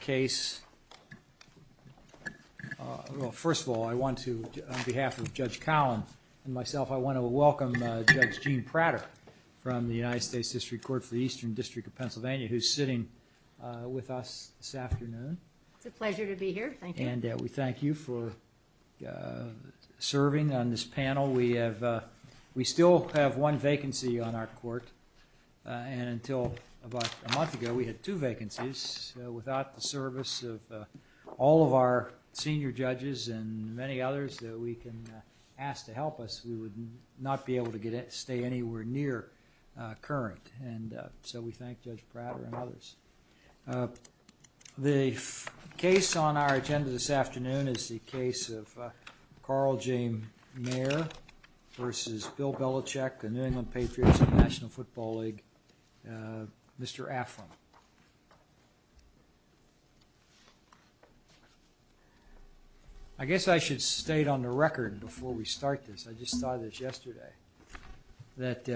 case, well first of all I want to, on behalf of Judge Collin and myself, I want to welcome Judge Jean Prater from the United States District Court for the Eastern District of Pennsylvania who's sitting with us this afternoon. It's a pleasure to be here, thank you. And we thank you for serving on this panel. We have, we still have one vacancy on our court and until about a month ago we had two vacancies. Without the service of all of our senior judges and many others that we can ask to help us, we would not be able to stay anywhere near current and so we thank Judge Prater and others. The case on our agenda this afternoon is the case of Carl J. Mayer v. Bill Belichick, a I guess I should state on the record before we start this, I just saw this yesterday, that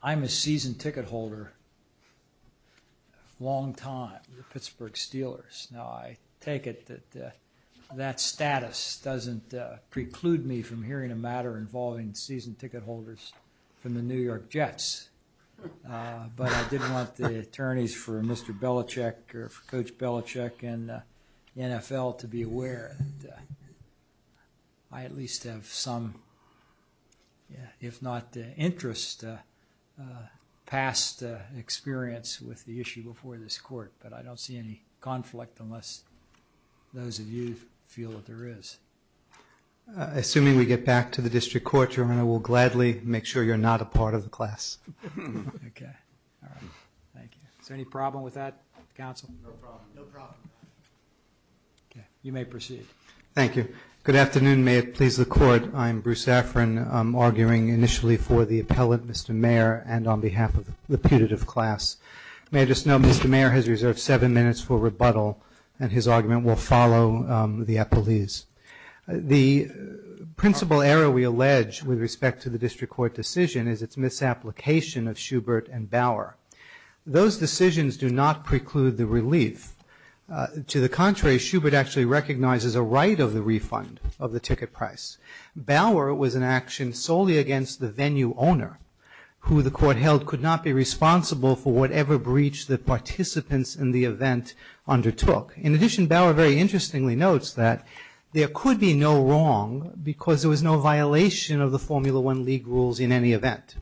I'm a seasoned ticket holder, long time, the Pittsburgh Steelers. Now I take it that that status doesn't preclude me from hearing a matter involving seasoned or for Coach Belichick and the NFL to be aware. I at least have some, if not interest, past experience with the issue before this court, but I don't see any conflict unless those of you feel that there is. Assuming we get back to the District Court, Your Honor, we'll gladly make sure you're not a part of the class. Okay, all right. Thank you. Is there any problem with that, counsel? No problem. No problem. Okay, you may proceed. Thank you. Good afternoon. May it please the court. I'm Bruce Safran, I'm arguing initially for the appellate, Mr. Mayer, and on behalf of the putative class. May I just note, Mr. Mayer has reserved seven minutes for rebuttal and his argument will follow the appellees. The principal error we allege with respect to the District Court decision is its misapplication of Schubert and Bauer. Those decisions do not preclude the relief. To the contrary, Schubert actually recognizes a right of the refund of the ticket price. Bauer was an action solely against the venue owner, who the court held could not be responsible for whatever breach the participants in the event undertook. In addition, Bauer very interestingly notes that there could be no wrong because there was no violation of the Formula One league rules in any event.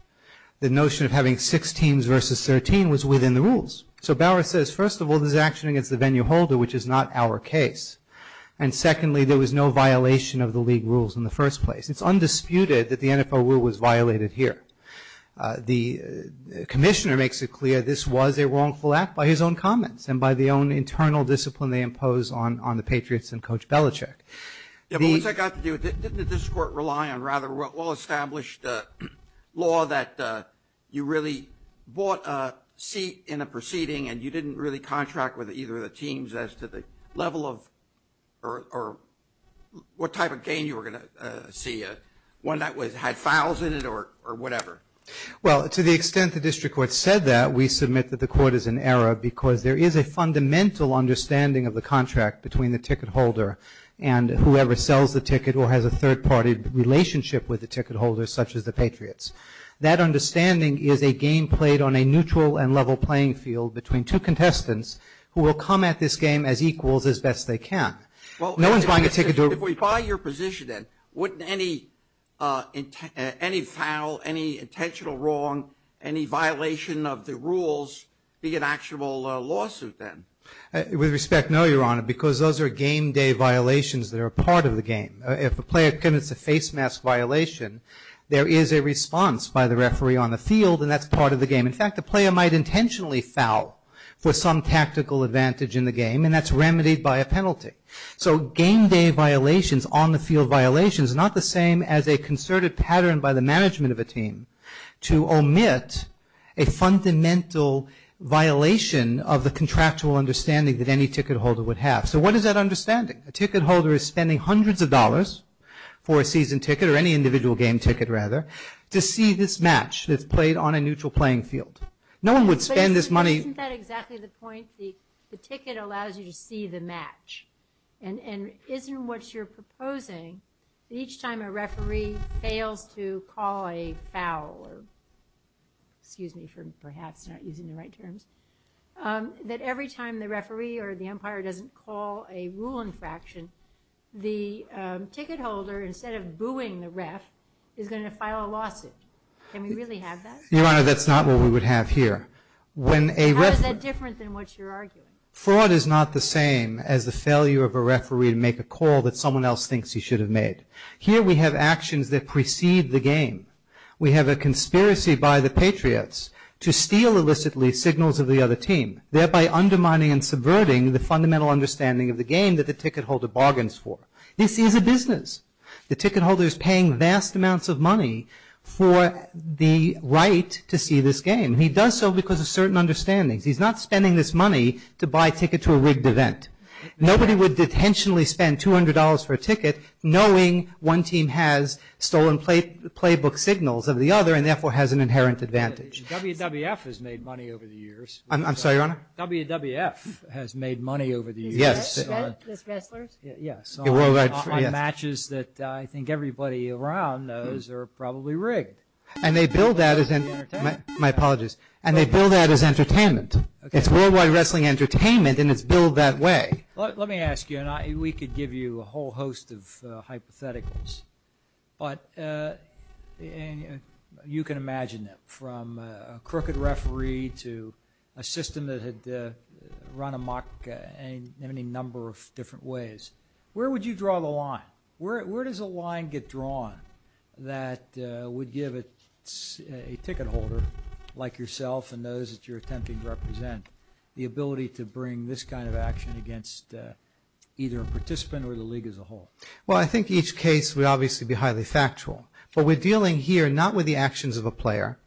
The notion of having six teams versus 13 was within the rules. So Bauer says, first of all, this is an action against the venue holder, which is not our case. And secondly, there was no violation of the league rules in the first place. It's undisputed that the NFO rule was violated here. The Commissioner makes it clear this was a wrongful act by his own comments and by the own internal discipline they impose on the Patriots and Coach Belichick. Yeah, but once I got to do it, didn't the district court rely on rather well-established law that you really bought a seat in a proceeding and you didn't really contract with either of the teams as to the level of or what type of gain you were going to see? One that had fouls in it or whatever? Well, to the extent the district court said that, we submit that the court is in error because there is a fundamental understanding of the contract between the ticket holder and whoever sells the ticket or has a third-party relationship with the ticket holder, such as the Patriots. That understanding is a game played on a neutral and level playing field between two contestants who will come at this game as equals as best they can. No one's buying a ticket to a... If we buy your position then, wouldn't any foul, any intentional wrong, any violation of the rules be an actual lawsuit then? With respect, no, Your Honor, because those are game-day violations that are part of the game. If a player commits a face mask violation, there is a response by the referee on the field and that's part of the game. In fact, the player might intentionally foul for some tactical advantage in the game and that's remedied by a penalty. So game-day violations, on-the-field violations are not the same as a concerted pattern by the management of a team to omit a fundamental violation of the contractual understanding that any ticket holder would have. So what is that understanding? A ticket holder is spending hundreds of dollars for a season ticket, or any individual game ticket rather, to see this match that's played on a neutral playing field. No one would spend this money... But isn't that exactly the point? The ticket allows you to see the match and isn't what you're proposing that each time a referee fails to call a foul, or excuse me for perhaps not using the right terms, that every time the referee or the umpire doesn't call a rule infraction, the ticket holder, instead of booing the ref, is going to file a lawsuit. Can we really have that? Your Honor, that's not what we would have here. How is that different than what you're arguing? Fraud is not the same as the failure of a referee to make a call that someone else thinks he should have made. Here we have actions that precede the game. We have a conspiracy by the Patriots to steal illicitly signals of the other team, thereby undermining and subverting the fundamental understanding of the game that the ticket holder bargains for. This is a business. The ticket holder is paying vast amounts of money for the right to see this game. He does so because of certain understandings. He's not spending this money to buy a ticket to a rigged event. Nobody would intentionally spend $200 for a ticket knowing one team has stolen playbook signals of the other and therefore has an inherent advantage. WWF has made money over the years. I'm sorry, Your Honor? WWF has made money over the years. Yes. On matches that I think everybody around knows are probably rigged. And they bill that as entertainment. It's worldwide wrestling entertainment and it's billed that way. Let me ask you, and we could give you a whole host of hypotheticals, but you can imagine that from a crooked referee to a system that had run amok in any number of different ways. Where would you draw the line? Where does a line get drawn that would give a ticket holder like yourself and those that you're attempting to represent the ability to bring this kind of action against either a participant or the league as a whole? Well, I think each case would obviously be highly factual, but we're dealing here not with the actions of a player.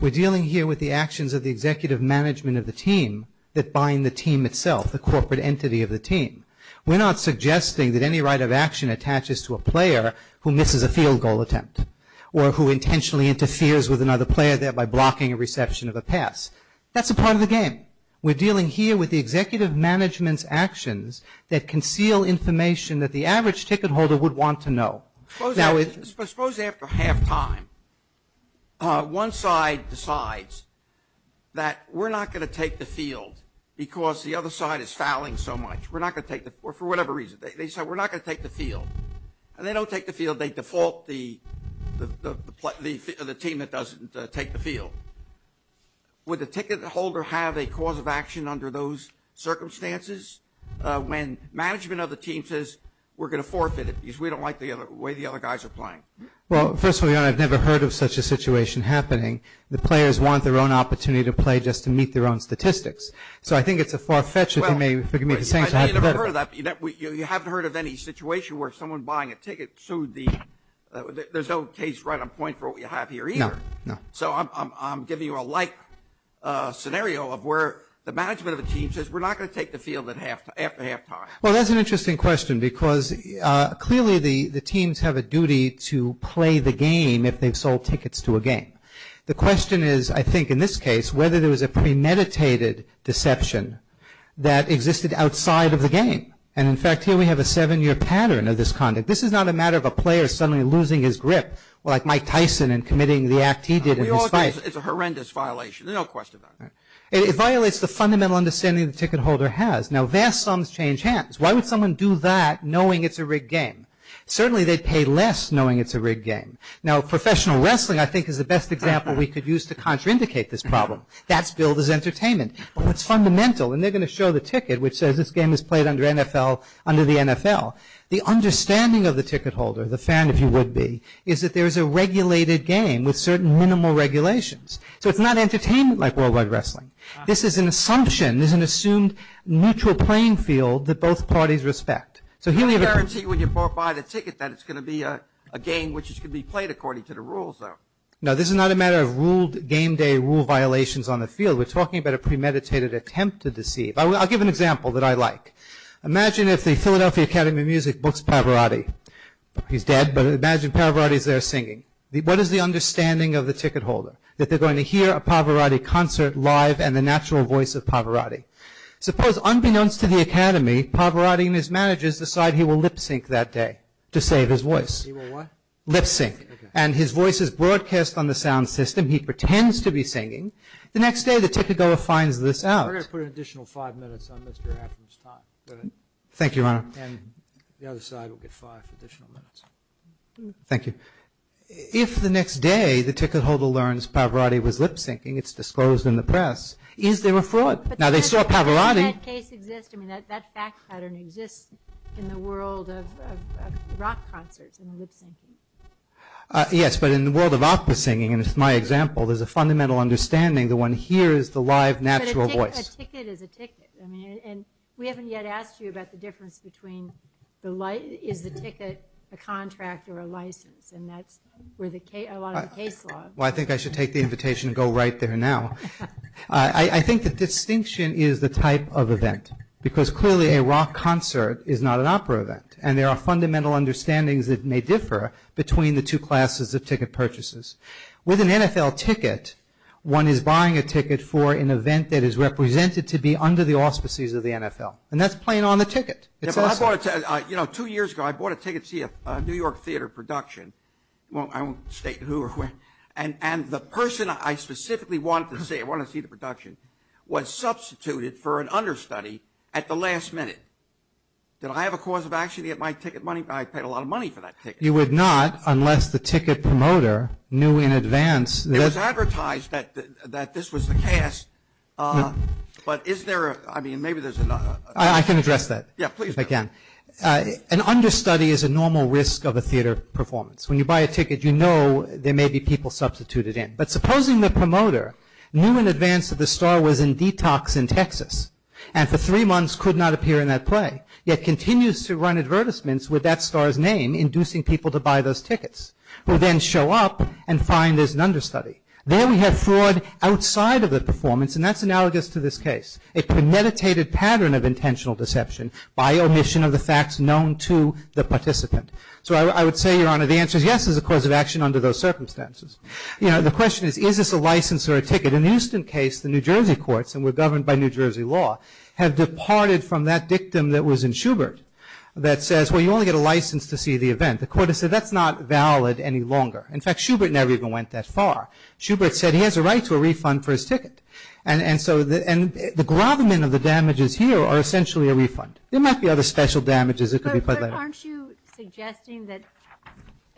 We're dealing here with the actions of the executive management of the team that bind the team itself, the corporate entity of the team. We're not suggesting that any right of action attaches to a player who misses a field goal attempt or who intentionally interferes with another player, thereby blocking a reception of a pass. That's a part of the game. We're dealing here with the executive management's actions that conceal information that the average ticket holder would want to know. Suppose after halftime, one side decides that we're not going to take the field because the other side is fouling so much. We're not going to take the field for whatever reason. They say, we're not going to take the field, and they don't take the field. They default the team that doesn't take the field. Would the ticket holder have a cause of action under those circumstances when management of the team says, we're going to forfeit it because we don't like the way the other guys are playing? Well, first of all, Your Honor, I've never heard of such a situation happening. The players want their own opportunity to play just to meet their own statistics. So I think it's a far fetch if you may forgive me for saying so. You haven't heard of any situation where someone buying a ticket sued the... There's no case right on point for what we have here either. So I'm giving you a like scenario of where the management of the team says, we're not going to take the field after halftime. Well, that's an interesting question because clearly the teams have a duty to play the game if they've sold tickets to a game. The question is, I think in this case, whether there was a premeditated deception that existed outside of the game. And in fact, here we have a seven-year pattern of this conduct. This is not a matter of a player suddenly losing his grip like Mike Tyson and committing the act he did in his fight. It's a horrendous violation, there's no question about it. It violates the fundamental understanding the ticket holder has. Now vast sums change hands. Why would someone do that knowing it's a rigged game? Certainly they'd pay less knowing it's a rigged game. Now professional wrestling I think is the best example we could use to contraindicate this problem. That's billed as entertainment. But what's fundamental, and they're going to show the ticket which says this game is played under the NFL, the understanding of the ticket holder, the fan if you would be, is that there is a regulated game with certain minimal regulations. So it's not entertainment like worldwide wrestling. This is an assumption, this is an assumed mutual playing field that both parties respect. I guarantee when you buy the ticket that it's going to be a game which can be played according to the rules though. No, this is not a matter of ruled game day rule violations on the field. We're talking about a premeditated attempt to deceive. I'll give an example that I like. Imagine if the Philadelphia Academy of Music books Pavarotti. He's dead, but imagine Pavarotti's there singing. What is the understanding of the ticket holder? That they're going to hear a Pavarotti concert live and the natural voice of Pavarotti. Suppose unbeknownst to the Academy, Pavarotti and his managers decide he will lip-sync that day to save his voice. He will what? Lip-sync. And his voice is broadcast on the sound system. He pretends to be singing. The next day the ticket holder finds this out. We're going to put an additional five minutes on Mr. Atherton's time. Thank you, Your Honor. And the other side will get five additional minutes. Thank you. If the next day the ticket holder learns Pavarotti was lip-syncing, it's disclosed in the press, is there a fraud? Now, they saw Pavarotti. But doesn't that case exist? I mean, that fact pattern exists in the world of rock concerts and lip-syncing. Yes, but in the world of opera singing, and it's my example, there's a fundamental understanding the one here is the live natural voice. But a ticket is a ticket. I mean, and we haven't yet asked you about the difference between is the ticket a contract or a license? And that's where a lot of the case law is. Well, I think I should take the invitation to go right there now. I think the distinction is the type of event. Because clearly a rock concert is not an opera event. And there are fundamental understandings that may differ between the two classes of ticket purchases. With an NFL ticket, one is buying a ticket for an event that is represented to be under the auspices of the NFL. And that's playing on the ticket. It's awesome. You know, two years ago, I bought a ticket to see a New York theater production. I won't state who or where. And the person I specifically wanted to see, I wanted to see the production, was substituted for an understudy at the last minute. Did I have a cause of action to get my ticket money? I paid a lot of money for that ticket. You would not, unless the ticket promoter knew in advance. It was advertised that this was the cast. But is there a, I mean, maybe there's a... I can address that. Yeah, please do. Again. An understudy is a normal risk of a theater performance. When you buy a ticket, you know there may be people substituted in. But supposing the promoter knew in advance that the star was in detox in Texas, and for three months could not appear in that play, yet continues to run advertisements with that star's name, inducing people to buy those tickets, who then show up and find there's an understudy. There we have fraud outside of the performance, and that's analogous to this case, a premeditated pattern of intentional deception by omission of the facts known to the participant. So I would say, Your Honor, the answer is yes, there's a cause of action under those circumstances. You know, the question is, is this a license or a ticket? In the Houston case, the New Jersey courts, and we're governed by New Jersey law, have departed from that dictum that was in Schubert that says, well, you only get a license to see the event. The court has said that's not valid any longer. In fact, Schubert never even went that far. Schubert said he has a right to a refund for his ticket. And so, and the grovelment of the damages here are essentially a refund. There might be other special damages that could be put there. Aren't you suggesting that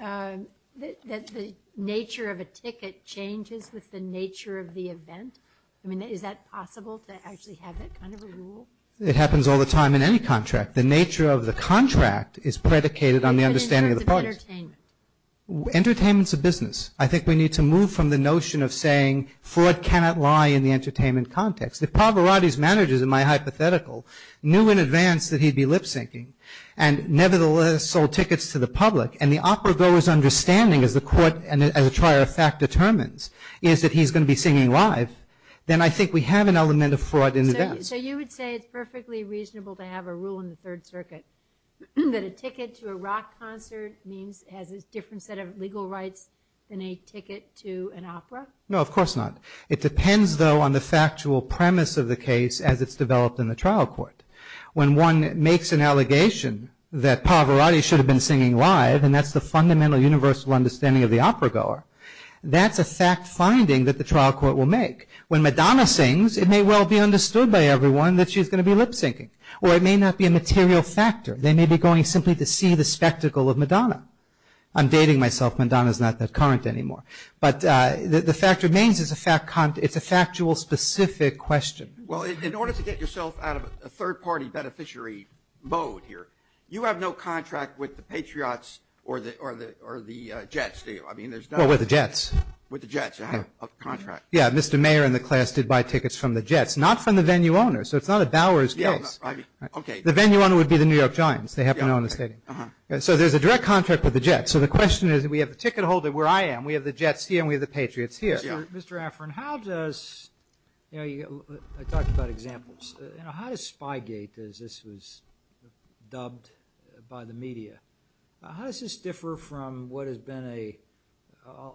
the nature of a ticket changes with the nature of the event? I mean, is that possible to actually have that kind of a rule? It happens all the time in any contract. The nature of the contract is predicated on the understanding of the parties. But in terms of entertainment? Entertainment's a business. I think we need to move from the notion of saying fraud cannot lie in the entertainment context. If Pavarotti's managers, in my hypothetical, knew in advance that he'd be lip syncing, and nevertheless sold tickets to the public, and the opera goer's understanding, as the court, as a trier of fact determines, is that he's going to be singing live, then I think we have an element of fraud in the dance. So you would say it's perfectly reasonable to have a rule in the Third Circuit that a ticket to a rock concert means it has a different set of legal rights than a ticket to an opera? No, of course not. It depends, though, on the factual premise of the case as it's developed in the trial court. When one makes an allegation that Pavarotti should have been singing live, and that's the fundamental universal understanding of the opera goer, that's a fact finding that the trial court will make. When Madonna sings, it may well be understood by everyone that she's going to be lip syncing. Or it may not be a material factor. They may be going simply to see the spectacle of Madonna. I'm dating myself. Madonna's not that current anymore. But the fact remains it's a factual, specific question. Well, in order to get yourself out of a third-party beneficiary mode here, you have no contract with the Patriots or the Jets, do you? I mean, there's no... Well, with the Jets. With the Jets. You have a contract. Yeah. Mr. Mayer and the class did buy tickets from the Jets. Not from the venue owners. So it's not a Bowers case. Yes. I mean... Okay. The venue owner would be the New York Giants. They happen to own the stadium. Uh-huh. So there's a direct contract with the Jets. So the question is, we have the ticket holder where I am. We have the Jets here. And we have the Patriots here. Mr. Affran, how does... I talked about examples. How does Spygate, as this was dubbed by the media, how does this differ from what has been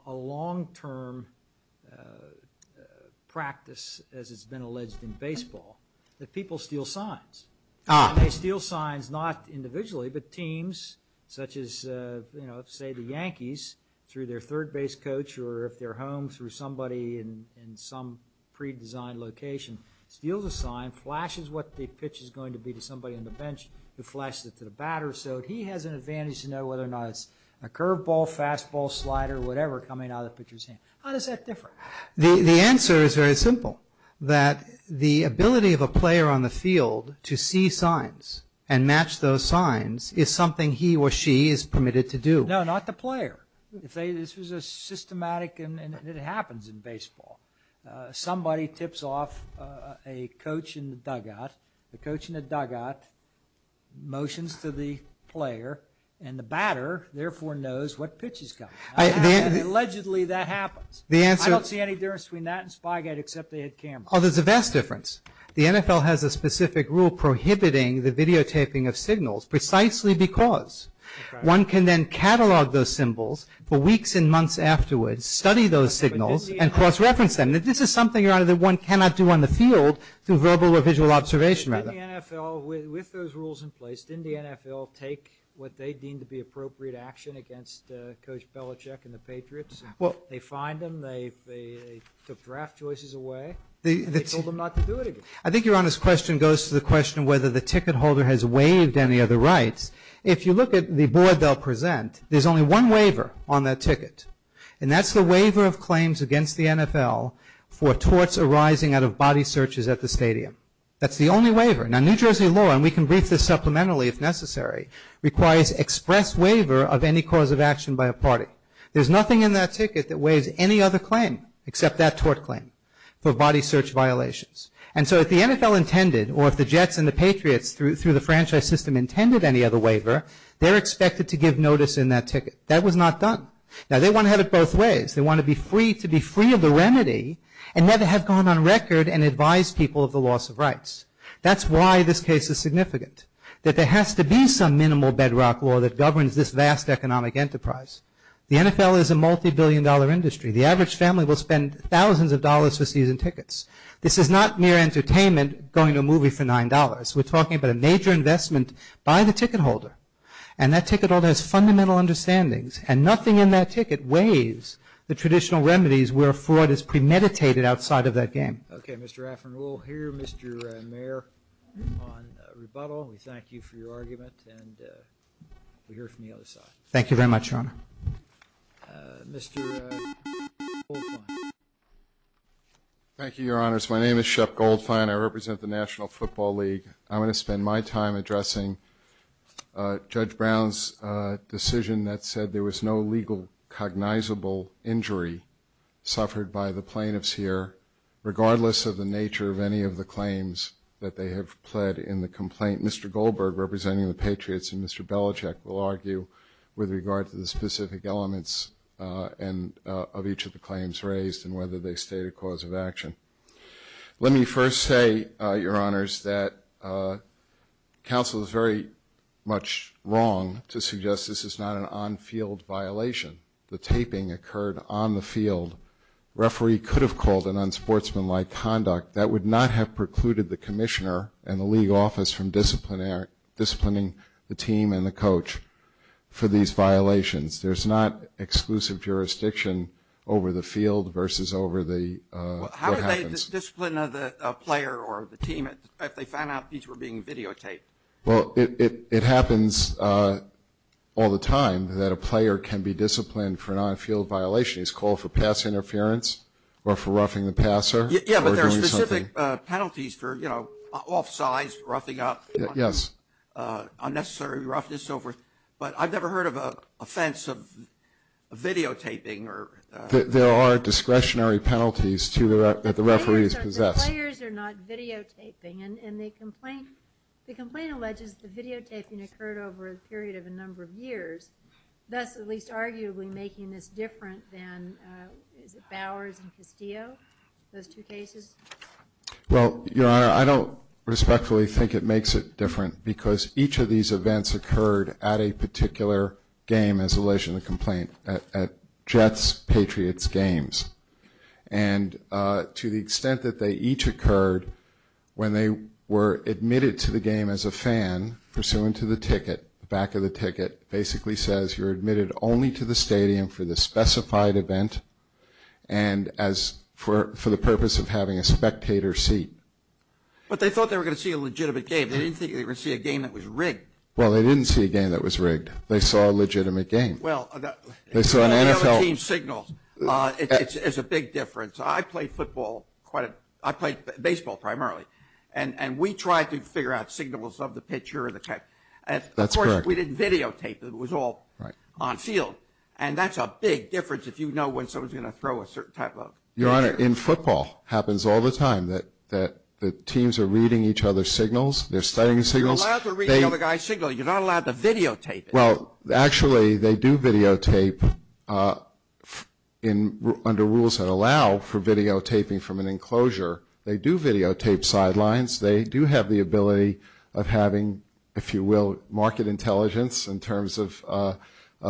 a long-term practice, as it's been alleged in baseball, that people steal signs? And they steal signs, not individually, but teams such as, say, the Yankees, through their home, through somebody in some pre-designed location, steals a sign, flashes what the pitch is going to be to somebody on the bench who flashes it to the batter. So he has an advantage to know whether or not it's a curveball, fastball, slider, whatever coming out of the pitcher's hand. How does that differ? The answer is very simple. That the ability of a player on the field to see signs and match those signs is something he or she is permitted to do. No, not the player. This was a systematic, and it happens in baseball. Somebody tips off a coach in the dugout. The coach in the dugout motions to the player, and the batter therefore knows what pitch is coming. Allegedly, that happens. I don't see any difference between that and Spygate, except they had cameras. Oh, there's a vast difference. The NFL has a specific rule prohibiting the videotaping of signals, precisely because one can then catalog those symbols for weeks and months afterwards, study those signals, and cross-reference them. This is something, Your Honor, that one cannot do on the field through verbal or visual observation, rather. With those rules in place, didn't the NFL take what they deemed to be appropriate action against Coach Belichick and the Patriots? They fined them. They took draft choices away. They told them not to do it again. I think Your Honor's question goes to the question whether the ticket holder has waived any other rights. If you look at the board they'll present, there's only one waiver on that ticket, and that's the waiver of claims against the NFL for torts arising out of body searches at the stadium. That's the only waiver. Now, New Jersey law, and we can brief this supplementarily if necessary, requires express waiver of any cause of action by a party. There's nothing in that ticket that waives any other claim, except that tort claim, for body search violations. And so if the NFL intended, or if the Jets and the Patriots through the franchise system intended any other waiver, they're expected to give notice in that ticket. That was not done. Now, they want to have it both ways. They want to be free to be free of the remedy and never have gone on record and advised people of the loss of rights. That's why this case is significant, that there has to be some minimal bedrock law that governs this vast economic enterprise. The NFL is a multi-billion dollar industry. The average family will spend thousands of dollars for season tickets. This is not mere entertainment going to a movie for $9. We're talking about a major investment by the ticket holder. And that ticket holder has fundamental understandings, and nothing in that ticket waives the traditional remedies where fraud is premeditated outside of that game. Okay. Mr. Rafferty, we'll hear Mr. Mayer on rebuttal. We thank you for your argument, and we'll hear from the other side. Thank you very much, Your Honor. Mr. Goldfein. Thank you, Your Honors. My name is Shep Goldfein. I represent the National Football League. I'm going to spend my time addressing Judge Brown's decision that said there was no legal cognizable injury suffered by the plaintiffs here, regardless of the nature of any of the claims that they have pled in the complaint. Mr. Goldberg, representing the Patriots, and Mr. Belichick will argue with regard to the specific elements of each of the claims raised and whether they state a cause of action. Let me first say, Your Honors, that counsel is very much wrong to suggest this is not an on-field violation. The taping occurred on the field. Referee could have called an unsportsmanlike conduct. That would not have precluded the commissioner and the league office from disciplining the team and the coach for these violations. There's not exclusive jurisdiction over the field versus over the house. How would they discipline a player or the team if they found out these were being videotaped? Well, it happens all the time that a player can be disciplined for an on-field violation. He's called for pass interference or for roughing the passer. Yeah, but there are specific penalties for, you know, offside, roughing up. Yes. Unnecessary roughness. But I've never heard of an offense of videotaping. There are discretionary penalties that the referees possess. The players are not videotaping, and the complaint alleges the videotaping occurred over a period of a number of years, thus at least arguably making this different than, is it Bowers and Castillo, those two cases? Well, Your Honor, I don't respectfully think it makes it different because each of these events occurred at a particular game as a relation to the complaint. At Jets-Patriots games. And to the extent that they each occurred when they were admitted to the game as a fan pursuant to the ticket, the back of the ticket basically says you're admitted only to the stadium for the specified event and for the purpose of having a spectator seat. But they thought they were going to see a legitimate game. They didn't think they were going to see a game that was rigged. Well, they didn't see a game that was rigged. They saw a legitimate game. They saw an NFL. Well, the way the other team signals is a big difference. I play football quite a bit. I play baseball primarily. And we try to figure out signals of the pitcher or the catcher. That's correct. Of course, we didn't videotape. It was all on field. And that's a big difference if you know when someone's going to throw a certain type of picture. Your Honor, in football, it happens all the time that teams are reading each other's signals. They're studying signals. You're allowed to read the other guy's signal. You're not allowed to videotape it. Well, actually, they do videotape under rules that allow for videotaping from an enclosure. They do videotape sidelines. They do have the ability of having, if you will, market intelligence in terms of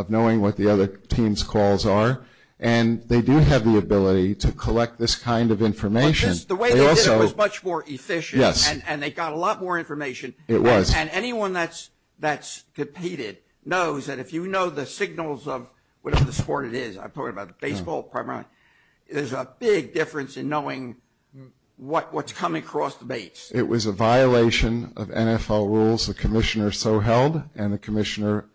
knowing what the other team's calls are. And they do have the ability to collect this kind of information. The way they did it was much more efficient. Yes. And they got a lot more information. It was. And anyone that's competed knows that if you know the signals of whatever the sport it is, I'm talking about baseball primarily, there's a big difference in knowing what's coming across the base. It was a violation of NFL rules the commissioner so held and the commissioner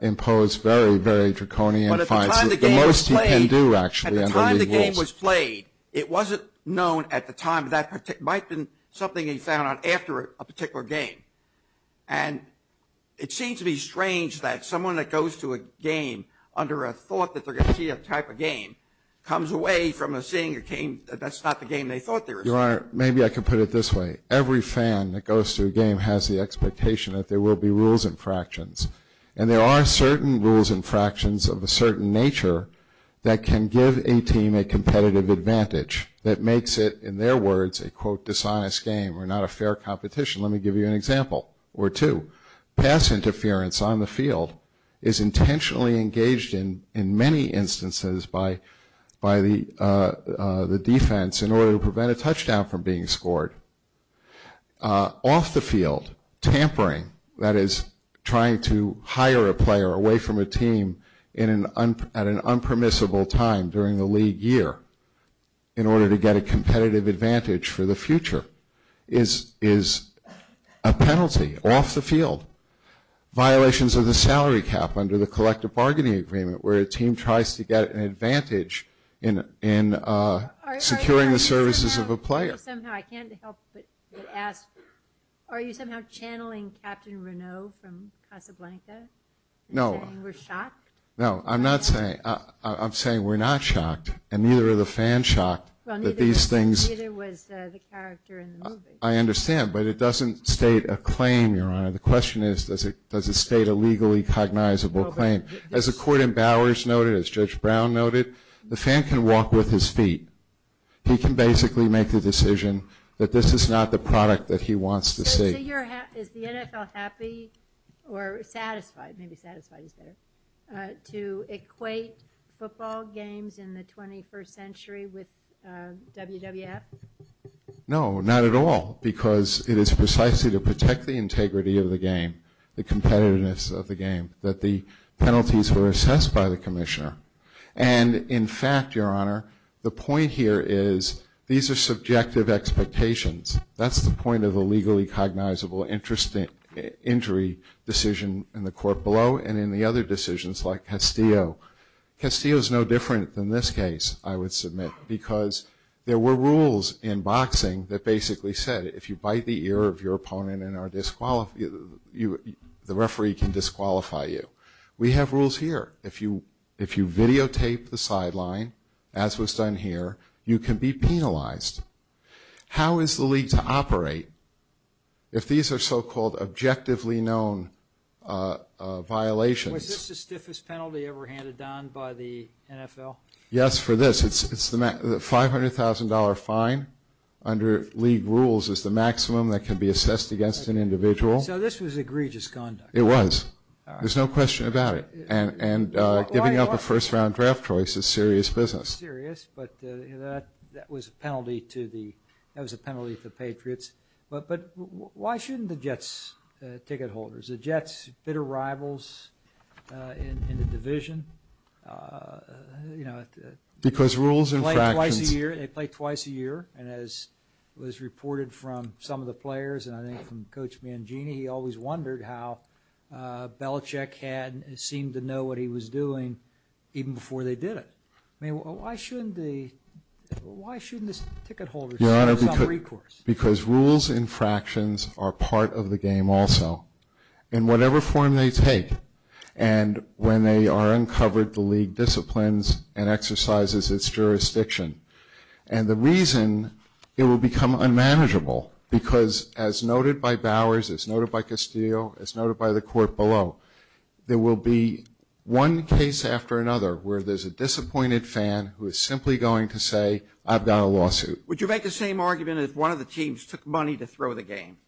imposed very, very draconian fines. But at the time the game was played. The most he can do, actually, under league rules. At the time the game was played, it wasn't known at the time. It might have been something he found out after a particular game. And it seems to be strange that someone that goes to a game under a thought that they're going to see a type of game comes away from seeing a game that's not the game they thought they were seeing. Your Honor, maybe I can put it this way. Every fan that goes to a game has the expectation that there will be rules and fractions. And there are certain rules and fractions of a certain nature that can give a team a competitive advantage that makes it, in their words, a quote dishonest game or not a fair competition. Let me give you an example or two. Pass interference on the field is intentionally engaged in many instances by the defense in order to prevent a touchdown from being scored. Off the field, tampering, that is trying to hire a player away from a team at an earlier year in order to get a competitive advantage for the future is a penalty off the field. Violations of the salary cap under the collective bargaining agreement where a team tries to get an advantage in securing the services of a player. Are you somehow channeling Captain Renault from Casablanca? No. You're saying we're shocked? No. I'm not saying, I'm saying we're not shocked and neither are the fans shocked that these things. Neither was the character in the movie. I understand, but it doesn't state a claim, Your Honor. The question is does it state a legally cognizable claim? As the court in Bowers noted, as Judge Brown noted, the fan can walk with his feet. He can basically make the decision that this is not the product that he wants to see. Is the NFL happy or satisfied, maybe satisfied is better, to equate football games in the 21st century with WWF? No, not at all because it is precisely to protect the integrity of the game, the competitiveness of the game, that the penalties were assessed by the commissioner. And in fact, Your Honor, the point here is these are subjective expectations. That's the point of a legally cognizable injury decision in the court below and in the other decisions like Castillo. Castillo is no different than this case, I would submit, because there were rules in boxing that basically said if you bite the ear of your opponent, the referee can disqualify you. We have rules here. If you videotape the sideline, as was done here, you can be penalized. How is the league to operate if these are so-called objectively known violations? Was this the stiffest penalty ever handed down by the NFL? Yes, for this. It's the $500,000 fine under league rules is the maximum that can be assessed against an individual. So this was egregious conduct. It was. There's no question about it. And giving up a first-round draft choice is serious business. It's serious, but that was a penalty to the Patriots. But why shouldn't the Jets ticket holders? The Jets, bitter rivals in the division. Because rules and fractions. They play twice a year, and as was reported from some of the players and I think from Coach Mangini, he always wondered how Belichick had seemed to know what he was doing even before they did it. I mean, why shouldn't the ticket holders do this on recourse? Because rules and fractions are part of the game also. In whatever form they take, and when they are uncovered, the league disciplines and exercises its jurisdiction. And the reason it will become unmanageable, because as noted by Bowers, as noted by Castillo, as noted by the court below, there will be one case after another where there's a disappointed fan who is simply going to say, I've got a lawsuit. Would you make the same argument if one of the teams took money to throw the game?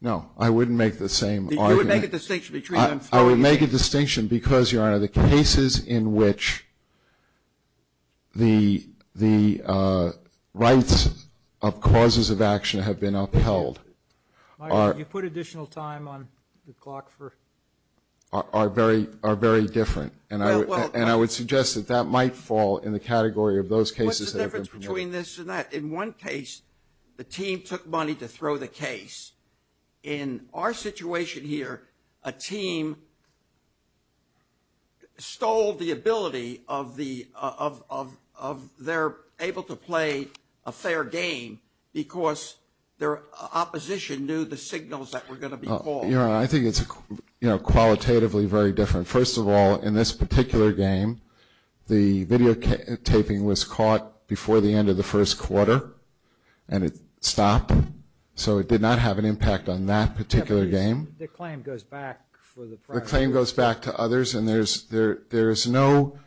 No, I wouldn't make the same argument. You would make a distinction between them throwing the game? I would make a distinction because, Your Honor, the cases in which the rights of causes of action have been upheld are... You put additional time on the clock for... are very different. And I would suggest that that might fall in the category of those cases that have been promoted. What's the difference between this and that? In one case, the team took money to throw the case. In our situation here, a team stole the ability of their... able to play a fair game because their opposition knew the signals that were going to be called. Your Honor, I think it's qualitatively very different. First of all, in this particular game, the videotaping was caught before the end of the first quarter, and it stopped. So it did not have an impact on that particular game. The claim goes back for the... The claim goes back to others, and there's no...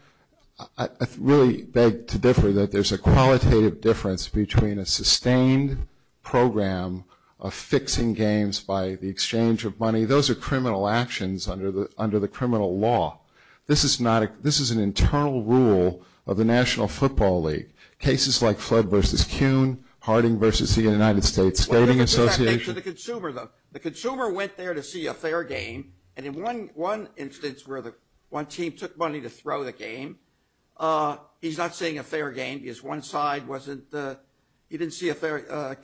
I really beg to differ that there's a qualitative difference between a sustained program of fixing games by the exchange of money. Those are criminal actions under the criminal law. This is not a... This is an internal rule of the National Football League. Cases like Flood versus Kuhn, Harding versus the United States Skating Association... Well, let me put that back to the consumer, though. The consumer went there to see a fair game, and in one instance where the... one team took money to throw the game, he's not seeing a fair game because one side wasn't... he didn't see a fair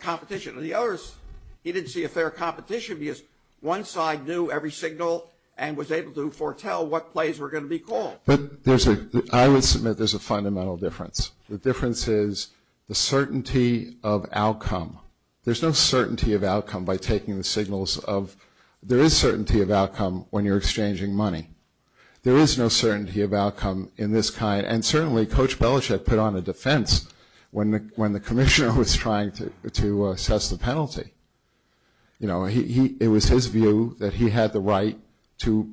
competition. The others, he didn't see a fair competition because one side knew every signal and was able to foretell what plays were going to be called. But there's a... I would submit there's a fundamental difference. The difference is the certainty of outcome. There's no certainty of outcome by taking the signals of... There is certainty of outcome when you're exchanging money. There is no certainty of outcome in this kind, and certainly Coach Belichick put on a defense when the commissioner was trying to assess the penalty. You know, it was his view that he had the right to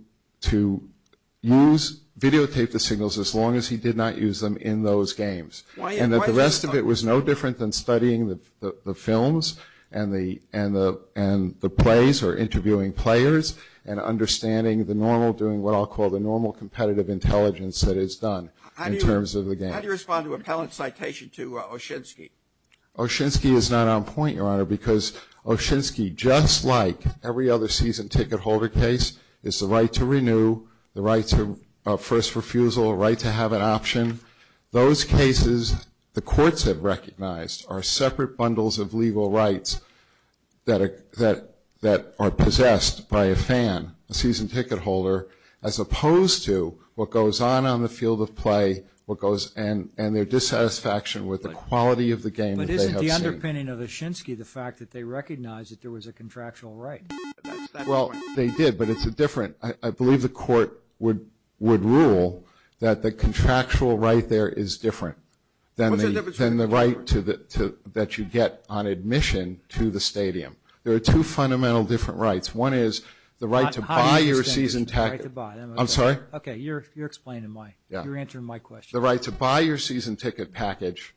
use... videotape the signals as long as he did not use them in those games. And that the rest of it was no different than studying the films and the plays or interviewing players and understanding the normal... doing what I'll call the normal competitive intelligence that goes into the game. How do you respond to Appellant's citation to Oshinsky? Oshinsky is not on point, Your Honor, because Oshinsky, just like every other season ticket holder case, has the right to renew, the right to first refusal, the right to have an option. Those cases the courts have recognized are separate bundles of legal rights that are possessed by a fan, a season ticket holder, as opposed to what goes on the field of play and their dissatisfaction with the quality of the game that they have seen. But isn't the underpinning of Oshinsky the fact that they recognize that there was a contractual right? Well, they did, but it's a different... I believe the court would rule that the contractual right there is different than the right that you get on admission to the stadium. There are two fundamental different rights. One is the right to buy your season ticket. I'm sorry? Okay, you're explaining my... Yeah. You're answering my question. The right to buy your season ticket package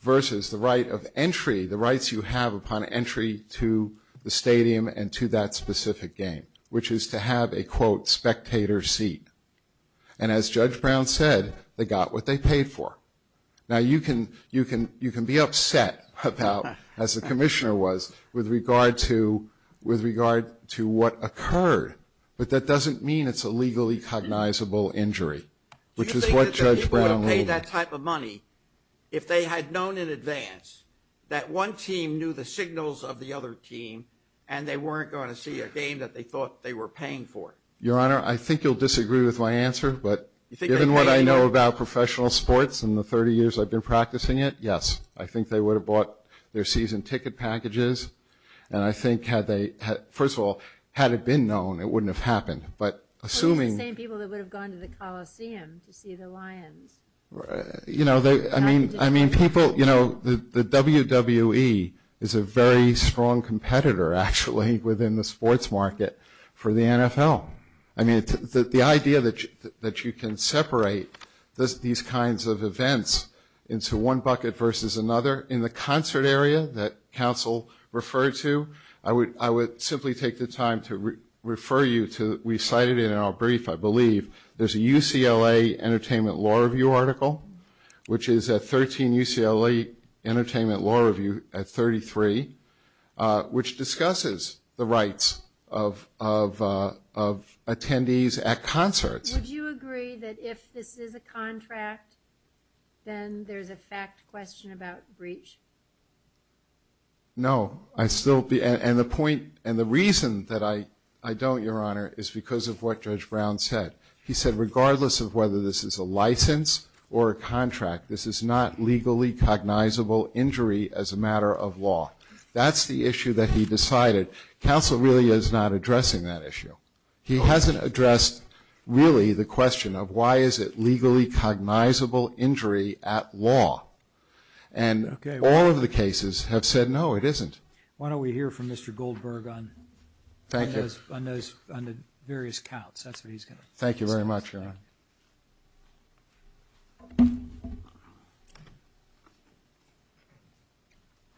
versus the right of entry, the rights you have upon entry to the stadium and to that specific game, which is to have a, quote, spectator seat. And as Judge Brown said, they got what they paid for. Now, you can be upset about, as the commissioner was, with regard to what occurred, but that doesn't mean it's a legally cognizable injury, which is what Judge Brown ruled. Do you think that they would have paid that type of money if they had known in advance that one team knew the signals of the other team and they weren't going to see a game that they thought they were paying for? Your Honor, I think you'll disagree with my answer, but given what I know about professional sports and the 30 years I've been practicing it, yes. I think they would have bought their season ticket packages and I think had they... First of all, had it been known, it wouldn't have happened. But assuming... Well, it's the same people that would have gone to the Coliseum to see the Lions. You know, I mean, people, you know, the WWE is a very strong competitor, actually, within the sports market for the NFL. I mean, the idea that you can separate these kinds of events into one bucket versus another in the concert area that counsel referred to, I would simply take the time to refer you to... We cited it in our brief, I believe. There's a UCLA Entertainment Law Review article, which is at 13 UCLA Entertainment Law Review at 33, which discusses the rights of attendees at concerts. Would you agree that if this is a contract, then there's a fact question about breach? No, I'd still be... And the point and the reason that I don't, Your Honour, is because of what Judge Brown said. He said, regardless of whether this is a license or a contract, this is not legally cognizable injury as a matter of law. That's the issue that he decided. Counsel really is not addressing that issue. He hasn't addressed, really, the question of why is it legally cognizable injury at law? And all of the cases have said, no, it isn't. Why don't we hear from Mr Goldberg on those various counts? That's what he's going to discuss. Thank you very much, Your Honour.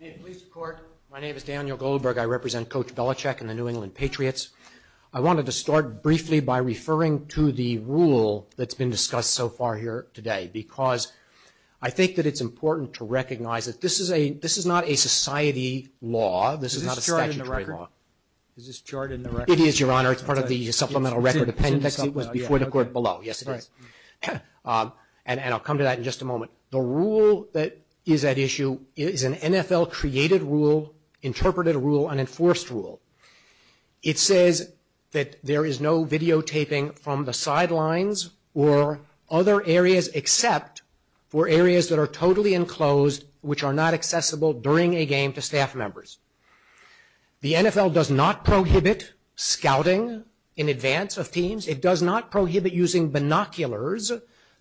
In police court, my name is Daniel Goldberg. I represent Coach Belichick and the New England Patriots. I wanted to start briefly by referring to the rule that's been discussed so far here today because I think that it's important to recognize that this is not a society law. This is not a statutory law. Is this chart in the record? It is, Your Honour. It's part of the Supplemental Record Appendix. It was before the court below. Yes, it is. And I'll come to that in just a moment. The rule that is at issue is an NFL-created rule, interpreted rule, unenforced rule. It says that there is no videotaping from the sidelines or other areas except for areas that are totally enclosed, which are not accessible during a game to staff members. The NFL does not prohibit scouting in advance of teams. It does not prohibit using binoculars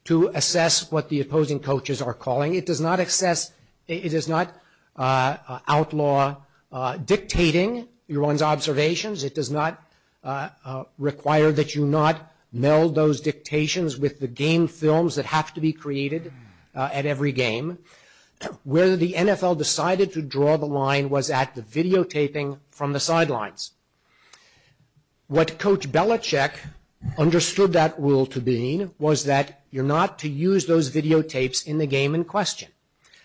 to assess what the opposing coaches are calling. It does not access... It is not outlaw dictating your own observations. It does not require that you not meld those dictations with the game films that have to be created at every game. Where the NFL decided to draw the line was at the videotaping from the sidelines. What Coach Belichick understood that rule to mean was that you're not to use those videotapes in the game in question.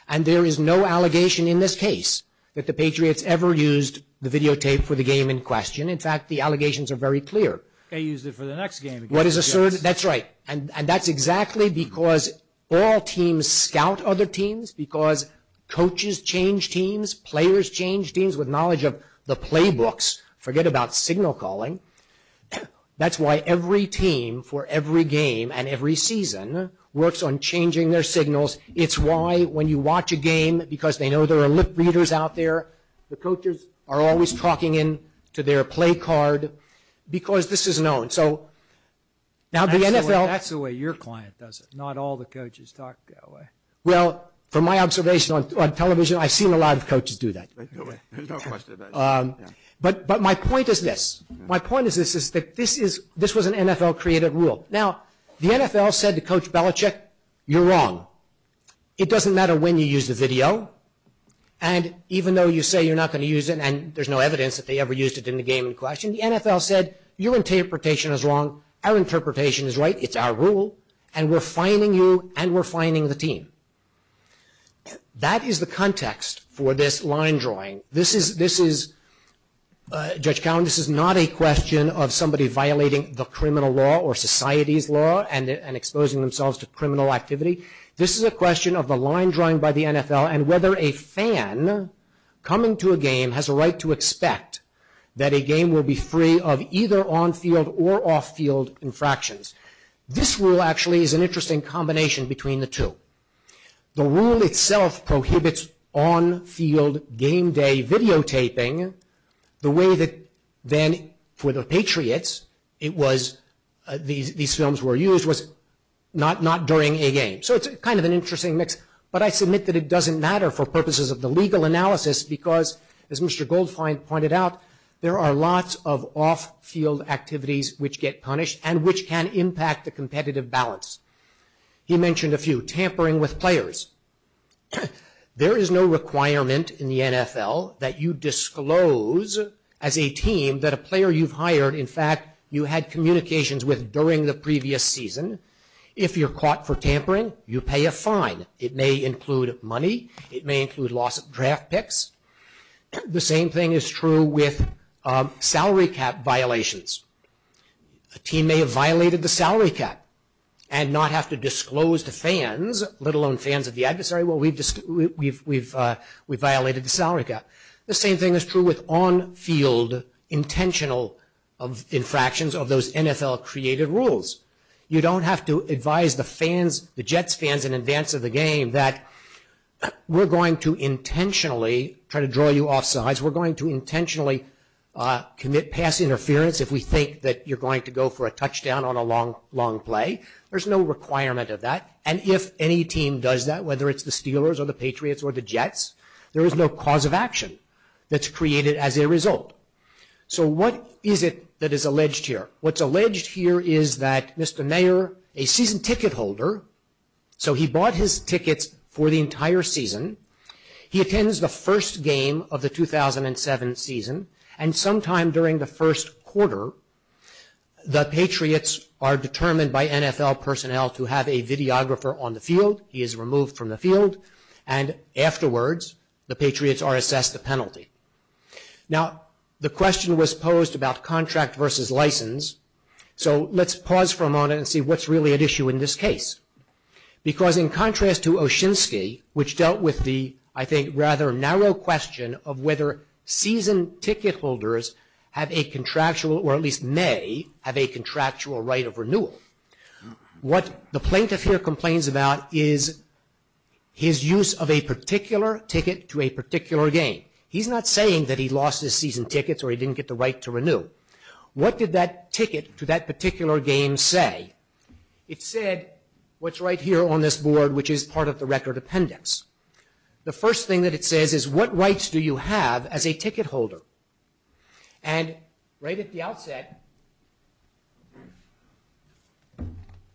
And there is no allegation in this case that the Patriots ever used the videotape for the game in question. In fact, the allegations are very clear. They used it for the next game. That's right. And that's exactly because all teams scout other teams, because coaches change teams, players change teams with knowledge of the playbooks. Forget about signal calling. That's why every team for every game and every season works on changing their signals. It's why when you watch a game, because they know there are lip-readers out there, the coaches are always talking in to their play card, because this is known. So now the NFL... That's the way your client does it. Not all the coaches talk that way. Well, from my observation on television, I've seen a lot of coaches do that. There's no question about it. But my point is this. My point is this, is that this was an NFL-created rule. Now, the NFL said to Coach Belichick, you're wrong. It doesn't matter when you use the video, and even though you say you're not going to use it and there's no evidence that they ever used it in the game in question, the NFL said, your interpretation is wrong, our interpretation is right, it's our rule, and we're fining you, and we're fining the team. That is the context for this line drawing. This is... Judge Cowen, this is not a question of somebody violating the criminal law or society's law and exposing themselves to criminal activity. This is a question of the line drawing by the NFL and whether a fan coming to a game has a right to expect that a game will be free of either on-field or off-field infractions. This rule, actually, is an interesting combination between the two. The rule itself prohibits on-field game day videotaping the way that then, for the Patriots, these films were used, was not during a game. So it's kind of an interesting mix, but I submit that it doesn't matter for purposes of the legal analysis because, as Mr. Goldfein pointed out, there are lots of off-field activities which get punished and which can impact the competitive balance. He mentioned a few. Tampering with players. There is no requirement in the NFL that you disclose as a team that a player you've hired, in fact, you had communications with during the previous season. If you're caught for tampering, you pay a fine. It may include money. It may include loss of draft picks. The same thing is true with salary cap violations. A team may have violated the salary cap and not have to disclose to fans, let alone fans of the adversary, well, we've violated the salary cap. The same thing is true with on-field intentional infractions of those NFL-created rules. You don't have to advise the fans, the Jets fans, in advance of the game that we're going to intentionally try to draw you offside. We're going to intentionally commit pass interference if we think that you're going to go for a touchdown on a long play. There's no requirement of that. And if any team does that, whether it's the Steelers or the Patriots or the Jets, there is no cause of action that's created as a result. So what is it that is alleged here? What's alleged here is that Mr. Mayer, a season ticket holder, so he bought his tickets for the entire season. He attends the first game of the 2007 season and sometime during the first quarter, the Patriots are determined by NFL personnel to have a videographer on the field. He is removed from the field and afterwards, the Patriots are assessed the penalty. Now, the question was posed about contract versus license, so let's pause for a moment and see what's really at issue in this case. Because in contrast to Oshinsky, which dealt with the, I think, rather narrow question of whether season ticket holders have a contractual, or at least may, have a contractual right of renewal. What the plaintiff here complains about is his use of a particular ticket to a particular game. He's not saying that he lost his season tickets or he didn't get the right to renew. What did that ticket to that particular game say? It said what's right here on this board, which is part of the record appendix. The first thing that it says is what rights do you have as a ticket holder? And right at the outset,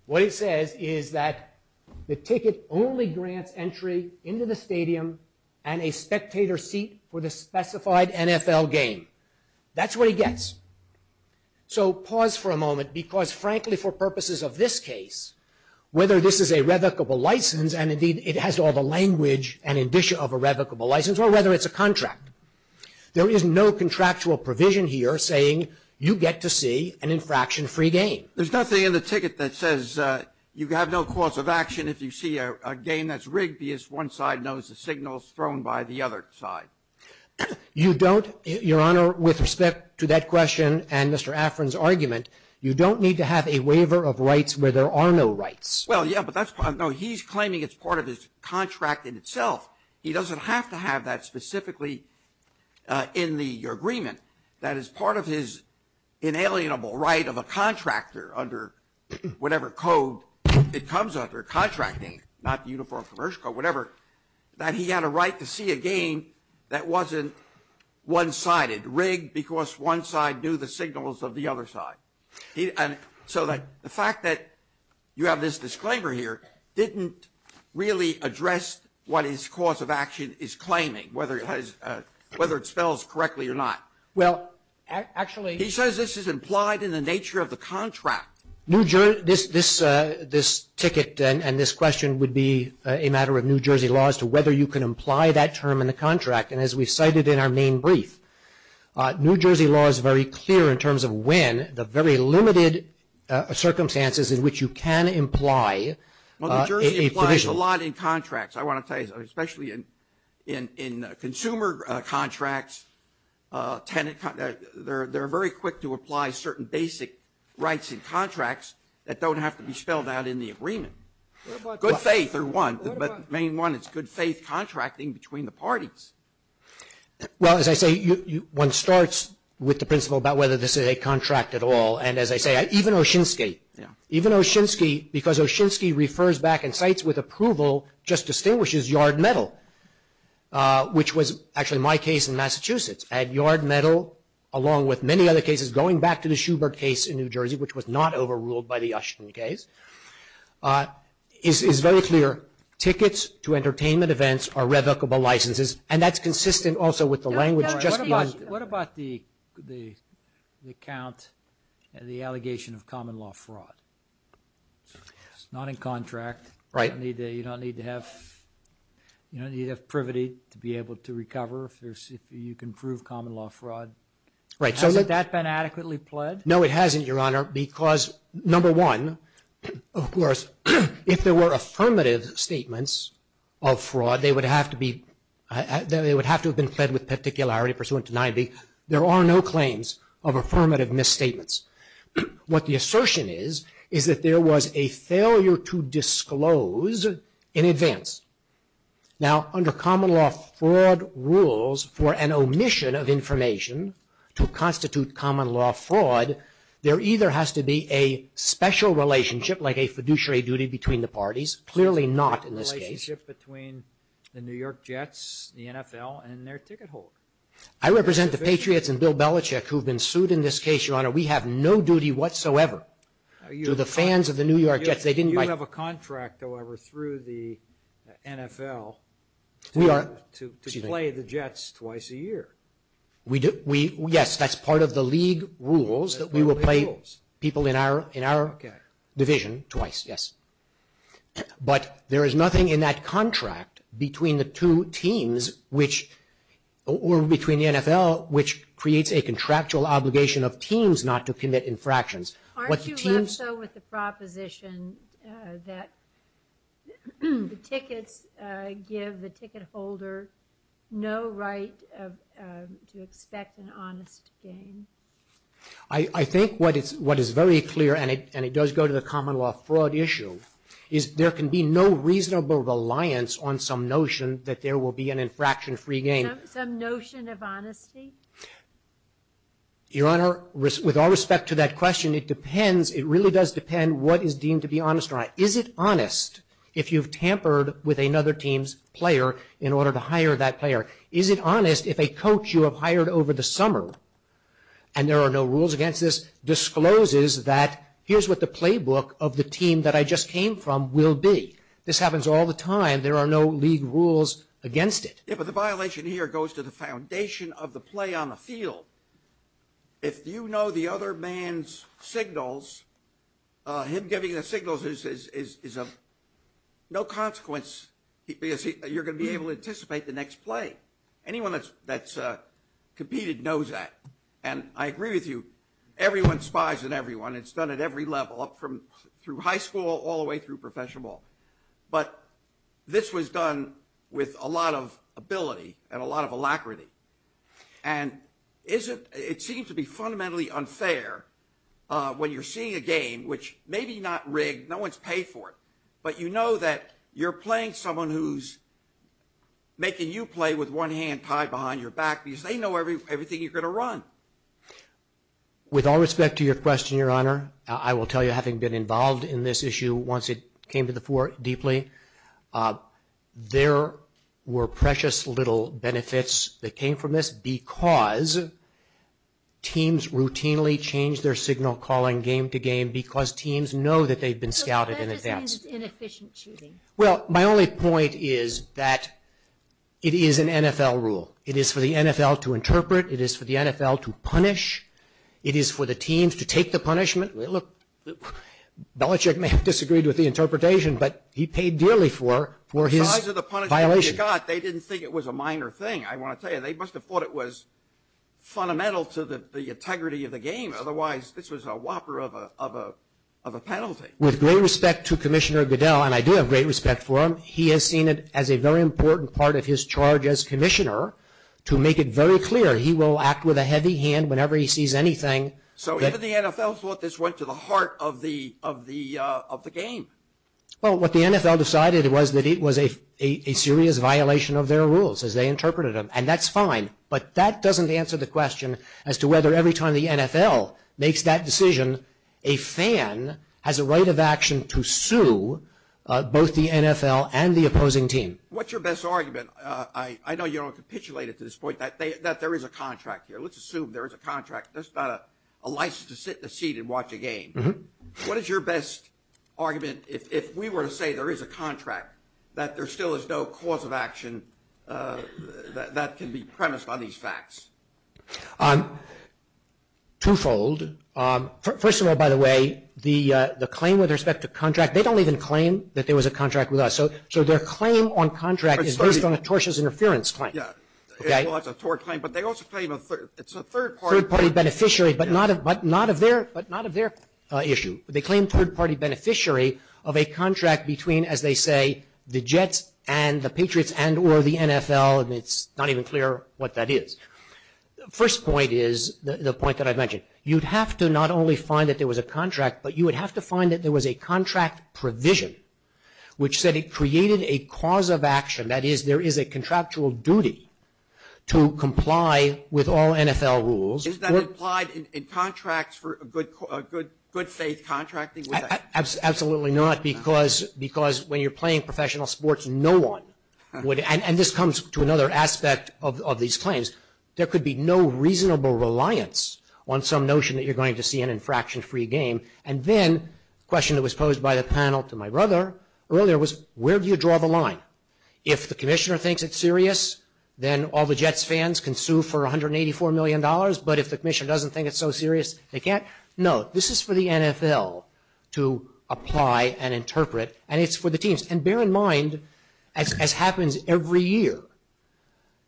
what it says is that the ticket only grants entry into the stadium and a spectator seat for the specified NFL game. That's what he gets. So, pause for a moment because frankly for purposes of this case, whether this is a revocable license and indeed it has all the language and indicia of a revocable license or whether it's a contract, there is no contractual provision here saying you get to see an infraction-free game. There's nothing in the ticket that says you have no cause of action if you see a game that's rigged because one side knows the signal is thrown by the other side. You don't, Your Honor, with respect to that question and Mr. Afrin's argument, you don't need to have a waiver of rights where there are no rights. Well, yeah, but he's claiming it's part of his contract in itself. He doesn't have to have that specifically in the agreement that is part of his inalienable right of a contractor under whatever code it comes under, contracting, not the Uniform Commercial Code, whatever, that he had a right to see a game that wasn't one-sided, rigged because one side knew the signals of the other side. And so the fact that you have this disclaimer here didn't really address what his cause of action is claiming, whether it spells correctly or not. Well, actually, He says this is implied in the nature of the contract. New Jersey, this ticket and this question would be a matter of New Jersey laws to whether you can imply that term in the contract and as we cited in our main brief, New Jersey law is very clear in terms of when the very limited circumstances in which you can imply a provision. Well, New Jersey implies a lot in contracts. I want to tell you especially in consumer contracts, tenant they're very quick to apply certain basic rights in contracts that don't have to be spelled out in the agreement. Good faith are one but main one is good faith contracting between the parties. Well, as I say, one starts with the principle about whether this is a contract at all and as I say, even Oshinsky, even Oshinsky because Oshinsky refers back and cites with approval just distinguishes yard metal which was actually my case in Massachusetts and yard metal along with many other cases going back to the Schubert case in New Jersey which was not overruled by the Oshinsky case is very clear. Tickets to entertainment events are revocable licenses and that's consistent also with the language. What about the count and the allegation of common law fraud? It's not in contract. Right. You don't need to have privity to be able to recover if you can approve common law fraud. Right. Hasn't that been adequately pled? No it hasn't Your Honor because number one of course if there were affirmative statements of fraud they would have to have been pled with particularity pursuant to 90. There are no claims of affirmative misstatements. What the assertion is is that there was a failure to disclose in advance. Now under common law fraud rules for an omission of information to constitute common law fraud there either has to be a special relationship like a fiduciary duty between the parties. Clearly not in this case. A relationship between the New York Jets the NFL and their ticket holder. I represent the Patriots and Bill Belichick who have been sued in this case. Your Honor we have no duty whatsoever to the fans of the New York Jets. You have a contract however through the NFL to play the Jets twice a year. Yes that's part of the league rules that we have established or between the NFL which contractual obligation of teams not to commit infractions. Aren't you left so with the proposition that the tickets give the ticket holder no right to expect an honest gain? I think what is very clear and it does go to the common law fraud issue is there can be no reasonable reliance on some notion that there will be an infraction free gain. Some notion of honesty? Your Honor with all respect to that question it depends it really does depend what is deemed to be honest. Is it honest if you have tampered with another team's player in order to hire that player? Is it honest if a coach you have hired over the summer and there are no rules against this discloses that here's what the playbook of the team that I just came from will be? This happens all the time there are no league rules against it. But the violation here goes to the foundation of the play on the field. If you know the other man's signals him giving the signals is no consequence you're going to be able to anticipate the next play. Anyone that's competed knows that. I agree with you everyone spies on everyone it's done at every level through high school through professional ball. This was done with a lot of ability and a lot of alacrity. And it seems to be fundamentally unfair when you're seeing a game which maybe not rigged but you know you're playing someone who's making you play with one hand tied behind your back because they know everything you're going to run. With all respect to your question your honor I will tell you having been involved in this issue once it came to the fore deeply there were precious little benefits that came from this because teams routinely change their signal calling game to game because teams know they've been scouted in advance. Well my only point is that it is an NFL rule. It is for the NFL to interpret it is for the NFL to punish it is for the teams to take the punishment look Belichick may have disagreed with the interpretation but he paid very dearly for his violation. With great respect to Commissioner Goodell and I do have great respect for him he has seen it as a very important part of his charge as Commissioner to make it very clear he will act with a heavy hand whenever he sees anything. So if the NFL thought this went to the heart of the game? Well what the NFL decided was that it was a serious violation of their rules as they interpreted them and that's fine but that doesn't answer the question as to whether every time the NFL makes that argument if we were to say there is a contract that there still is no cause of action that can be premised on these facts. Twofold. First of all by the way the claim with respect to contract they don't even claim that there was a contract with us so their claim on contract is based on a tortious interference claim. It's a third-party beneficiary but not of their issue. They claim third-party beneficiary of a contract between the Jets and the Patriots and or the NFL and it's not that they created a cause of action that is there is a contractual duty to comply with all NFL rules. Is that implied in contracts for good faith contracting? Absolutely not because when you're playing you draw the line. If the commissioner thinks it's serious then all the Jets fans can sue for $184 million but if the commissioner doesn't think it's so serious they can't. No, this is for the NFL to apply and interpret and it's for the teams and bear in mind as happens every year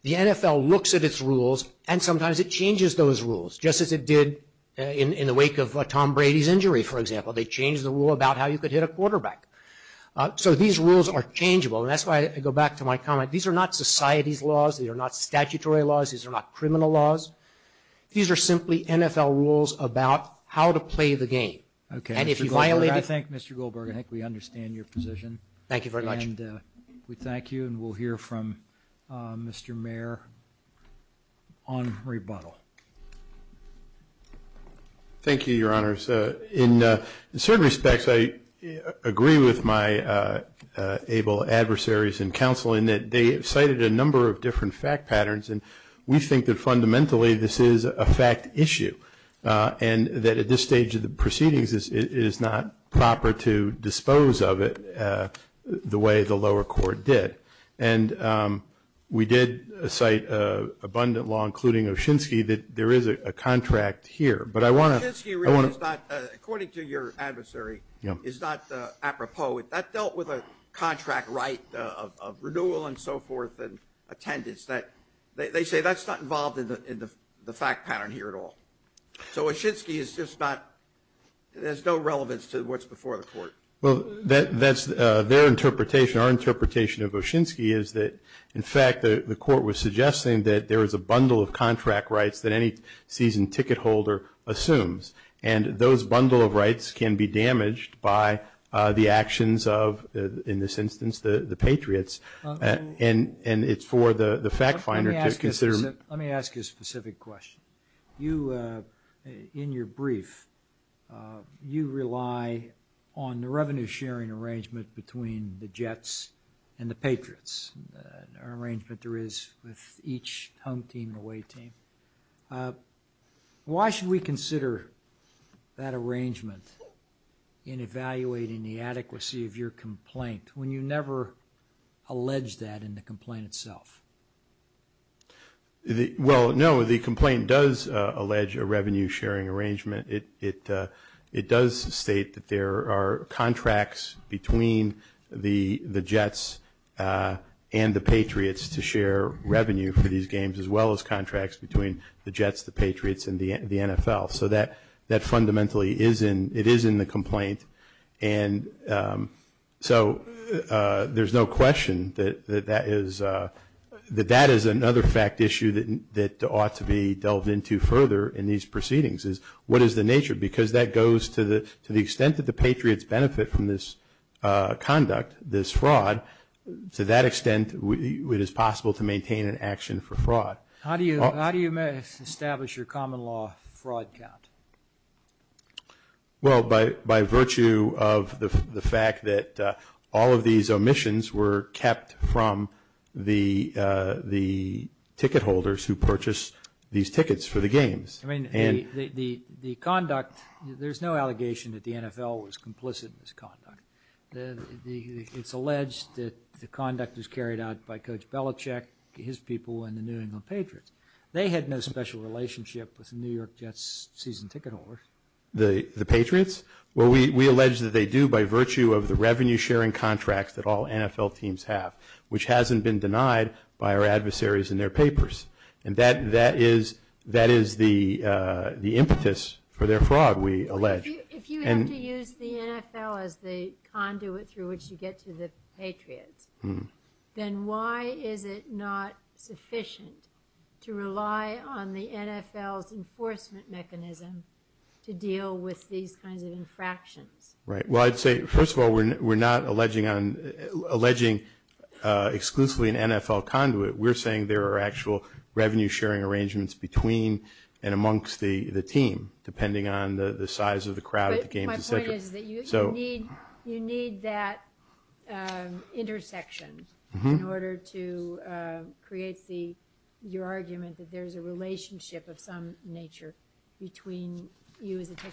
the NFL looks at its rules and sometimes it changes those rules just as it did in the wake of the league. Thank you. questions we will hear the commissioner to answer any questions on this issue. Mr. Goldberg thank you. We will hear from Mr. Mayor on rebuttal. Thank you, Mr. You heard the commissioner say it's not proper to dispose of it the way the lower court did. We say there's a contract here. According to your adversary it's not apropos. That dealt with a contract right of renewal and so forth. They say that's not involved in the fact pattern here at all. There's no relevance to what's before the court. That's their interpretation. Our interpretation is that the court was suggesting there's a bundle of the actions of the patriots and it's for the fact finder to consider. Let me ask a specific question. In your brief, you rely on the revenue sharing arrangement between the jets and the patriots. The arrangement there is with each home team and away team. Why should we consider that arrangement in evaluating the adequacy of your complaint when you never allege that in the complaint itself? The complaint does allege a revenue sharing arrangement. It does state that there are contracts between the jets and the patriots to share revenue for these games as well as contracts between the jets, the patriots, and the NFL. That fundamentally is in the complaint. There's no question that that is another fact issue that ought to be delved into further in these proceedings. What is the nature? Because that goes to the extent that the patriots benefit from this conduct, this fraud, to that extent it is possible to maintain an action for fraud. How do you establish your common law fraud count? Well, by virtue of the fact that all of these omissions were kept from the ticket holders who purchased these tickets for the games. I mean, the conduct, there's no allegation that the NFL was complicit in this conduct. It's alleged that the conduct was carried out by Coach Belichick, his people, and the New England Patriots. They had no special relationship with the New York Jets season ticket holders. The Patriots? Well, we allege that they do by virtue of the revenue sharing contracts that all NFL teams have, which hasn't been denied by our adversaries in their papers. And that is the impetus for their fraud, we allege. If you have to use the NFL as the conduit through which you get to the Patriots, then why is it not sufficient to rely on the NFL's enforcement mechanism to deal with these kinds of infractions? Right. Well, I'd say, first of all, we're not alleging exclusively an NFL conduit. We're saying there are actual revenue sharing arrangements between and amongst the team, depending on the size of the crowd. My point is that you need that intersection in order to create your argument that there's a relationship of some nature between you as a team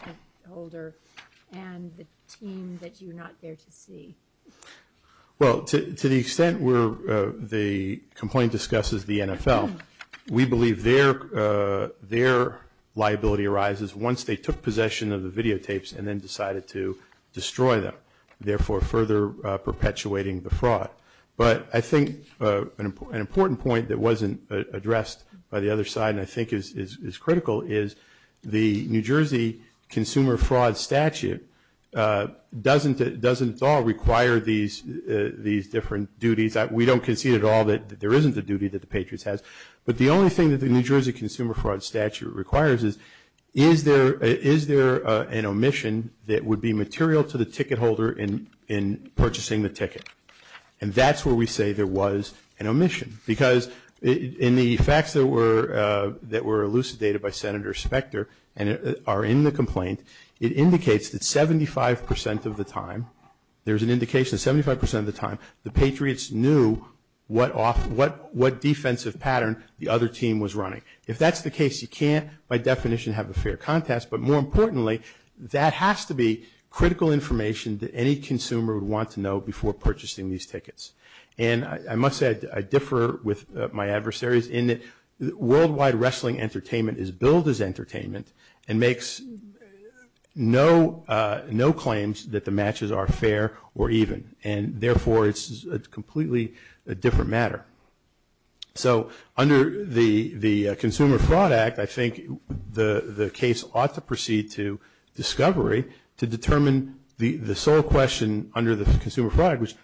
NFL. Well, to the extent where the complaint discusses the NFL, we believe their liability arises once they took possession of the videotapes and then decided to destroy them, therefore further perpetuating the fraud. But I think an example Jersey consumer fraud statute. We don't concede at all that there isn't a duty that the Patriots has, but the only thing that the New Jersey consumer fraud statute requires is is there to be critical information that any consumer would want to know before purchasing these tickets. And I must say I differ with my adversaries in that worldwide wrestling entertainment is billed as entertainment and makes no claims that the matches are fair or even. And therefore, it's a completely different matter. So under the Consumer Fraud Act, I think the case ought to proceed to discovery to determine the sole question under the Consumer Fraud Act.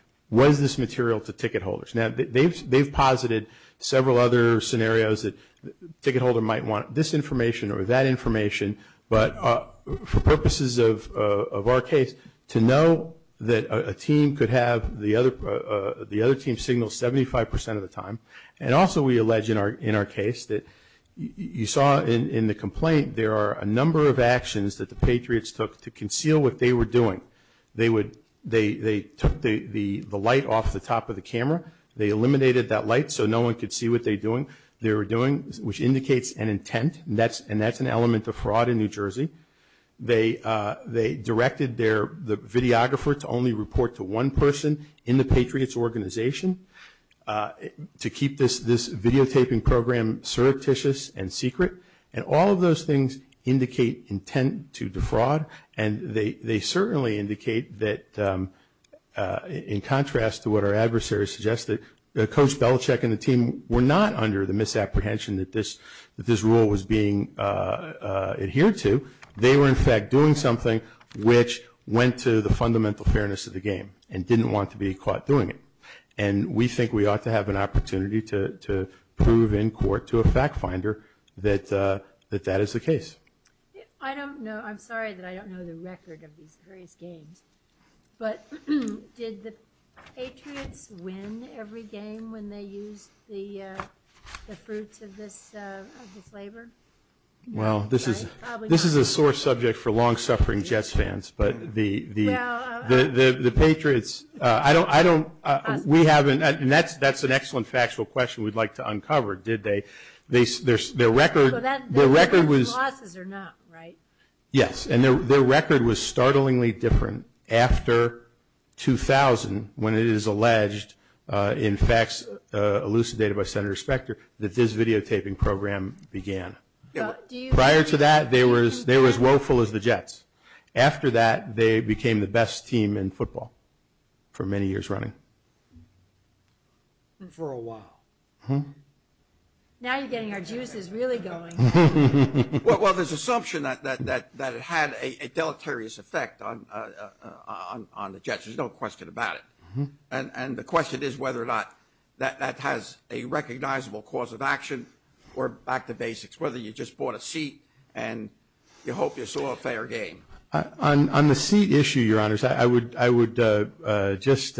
Now they've posited several other scenarios that the ticket holder might want this information or that information but for purposes of our case, to know that a team could have the other team signal that they were doing 75% of the time. And also we allege in our case that you saw in the complaint there are a number of actions that the Patriots took to conceal what they were doing. They took the light off the top of the roof to keep this videotaping program secret. And all of those things indicate intent to defraud. And they certainly indicate that in contrast to what our adversaries suggested, Coach Belichick and the team were not under the misapprehension that this rule was being adhered to. They were in fact doing something which went to the fundamental fairness of the game and didn't want to be caught doing it. And we think we ought to have an opportunity to prove in court to a fact finder that that is the case. Thank you. I'm sorry that I don't know the record of these various games, but did the Patriots win every game when they used the fruits of this labor? Well, this is a sore subject for long suffering Jets fans, but the Patriots, I don't, we haven't, that's an excellent factual question we'd like to uncover, did they? Their record was, yes, and their record was startlingly different after 2000 when it is alleged in facts elucidated by Senator Spector that this videotaping program began. Prior to that they were as woeful as the Jets. After that they became the best team in football for many years running. For a while. Now you're getting our juices really going. Well, there's an assumption that it had a deleterious effect on the Jets, there's no question about it, and the question is whether or not that has a recognizable cause of action or back to basics, whether you just bought a seat and you hope you saw a fair game. On the seat issue, your honors, I would just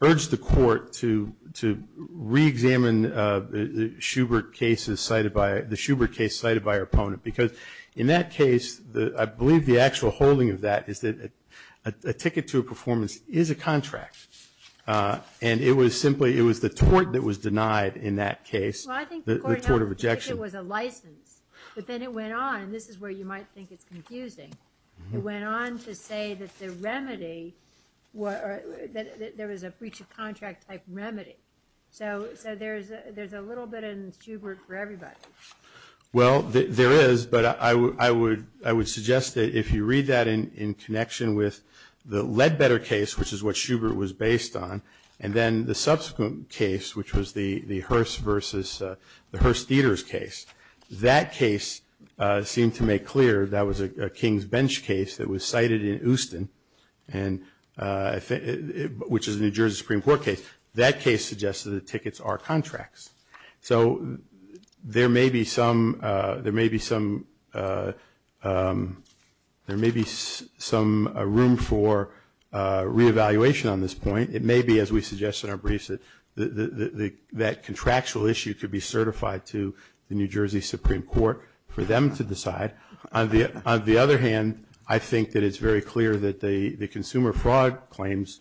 urge the court to reexamine the Shubert case cited by our opponent, because in that case, I believe the actual holding of that is that a ticket to a performance is a contract, and it was simply it was the tort that was that case, rejection. Well, I think the court now thinks it was a license, but then it went on, and this is where you might think it's confusing, it went on to say that there was a breach of contract type remedy, so there's a little bit in Shubert for everybody. Well, there is, but I would suggest that if you read that in connection with the Ledbetter case, which is what Shubert was based on, and then the subsequent case, which was the Hearst versus the Hearst Theaters case, that case seemed to make clear that was a King's Bench case that was cited in Houston, which is a New Jersey Supreme Court case, that case suggested that tickets are contracts, so there may be some room for reevaluation on this point. It may be, as we suggested in our briefs, that contractual issue could be certified to the New Jersey Supreme Court for them to decide. On the other hand, I think that it's very clear that the consumer fraud claims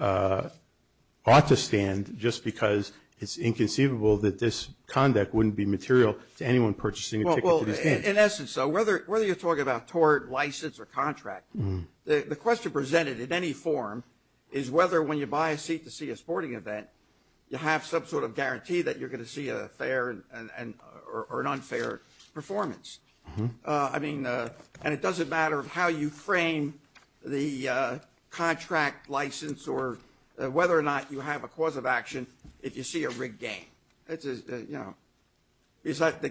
ought to stand just because it's inconceivable that this conduct wouldn't be material to anyone purchasing a ticket to the stand. Well, in essence, whether you're talking about tort, license, or contract, the question presented in any form is whether when you buy a seat to the stand, you have some sort of guarantee that you're going to see a fair or unfair performance. And it doesn't matter how you frame the contract license or whether or not you have a cause of action if you see a rigged game. The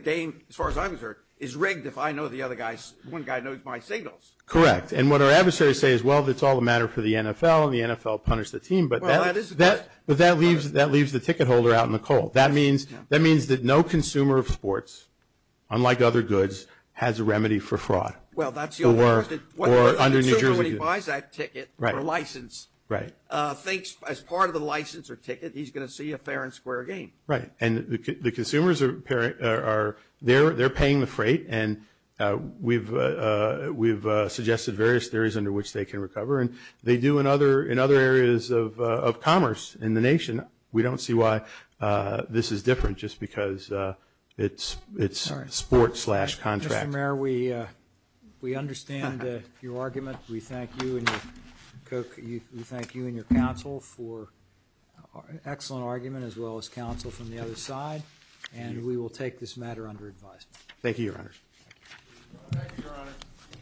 game, as far as I'm concerned, is rigged if I know the other guy's, one guy knows my signals. Correct. And what our adversaries say is, well, it's all a matter for the NFL and the NFL punished the team, but that leaves the ticket holder out in the cold. That means that no consumer of sports, unlike other goods, has a remedy for fraud. Well, that's the only way to And when he buys that ticket or license, as part of the license or ticket, he's going to see a fair and square game. Right. And the consumers, they're paying the freight, and we've suggested various areas under which they can recover. And they do in other areas of commerce in the nation. We don't see why this is different just because it's sports slash contract. Mr. Mayor, we understand your argument. We thank you and your an excellent argument as well as counsel from the other side. And we will take this matter under advisement. Thank you, Your Honor. Thank you, Your Honor. Mr. So please wait a minute. We'll begin shortly. I ask that the members of the committee please take your seats soon as possible.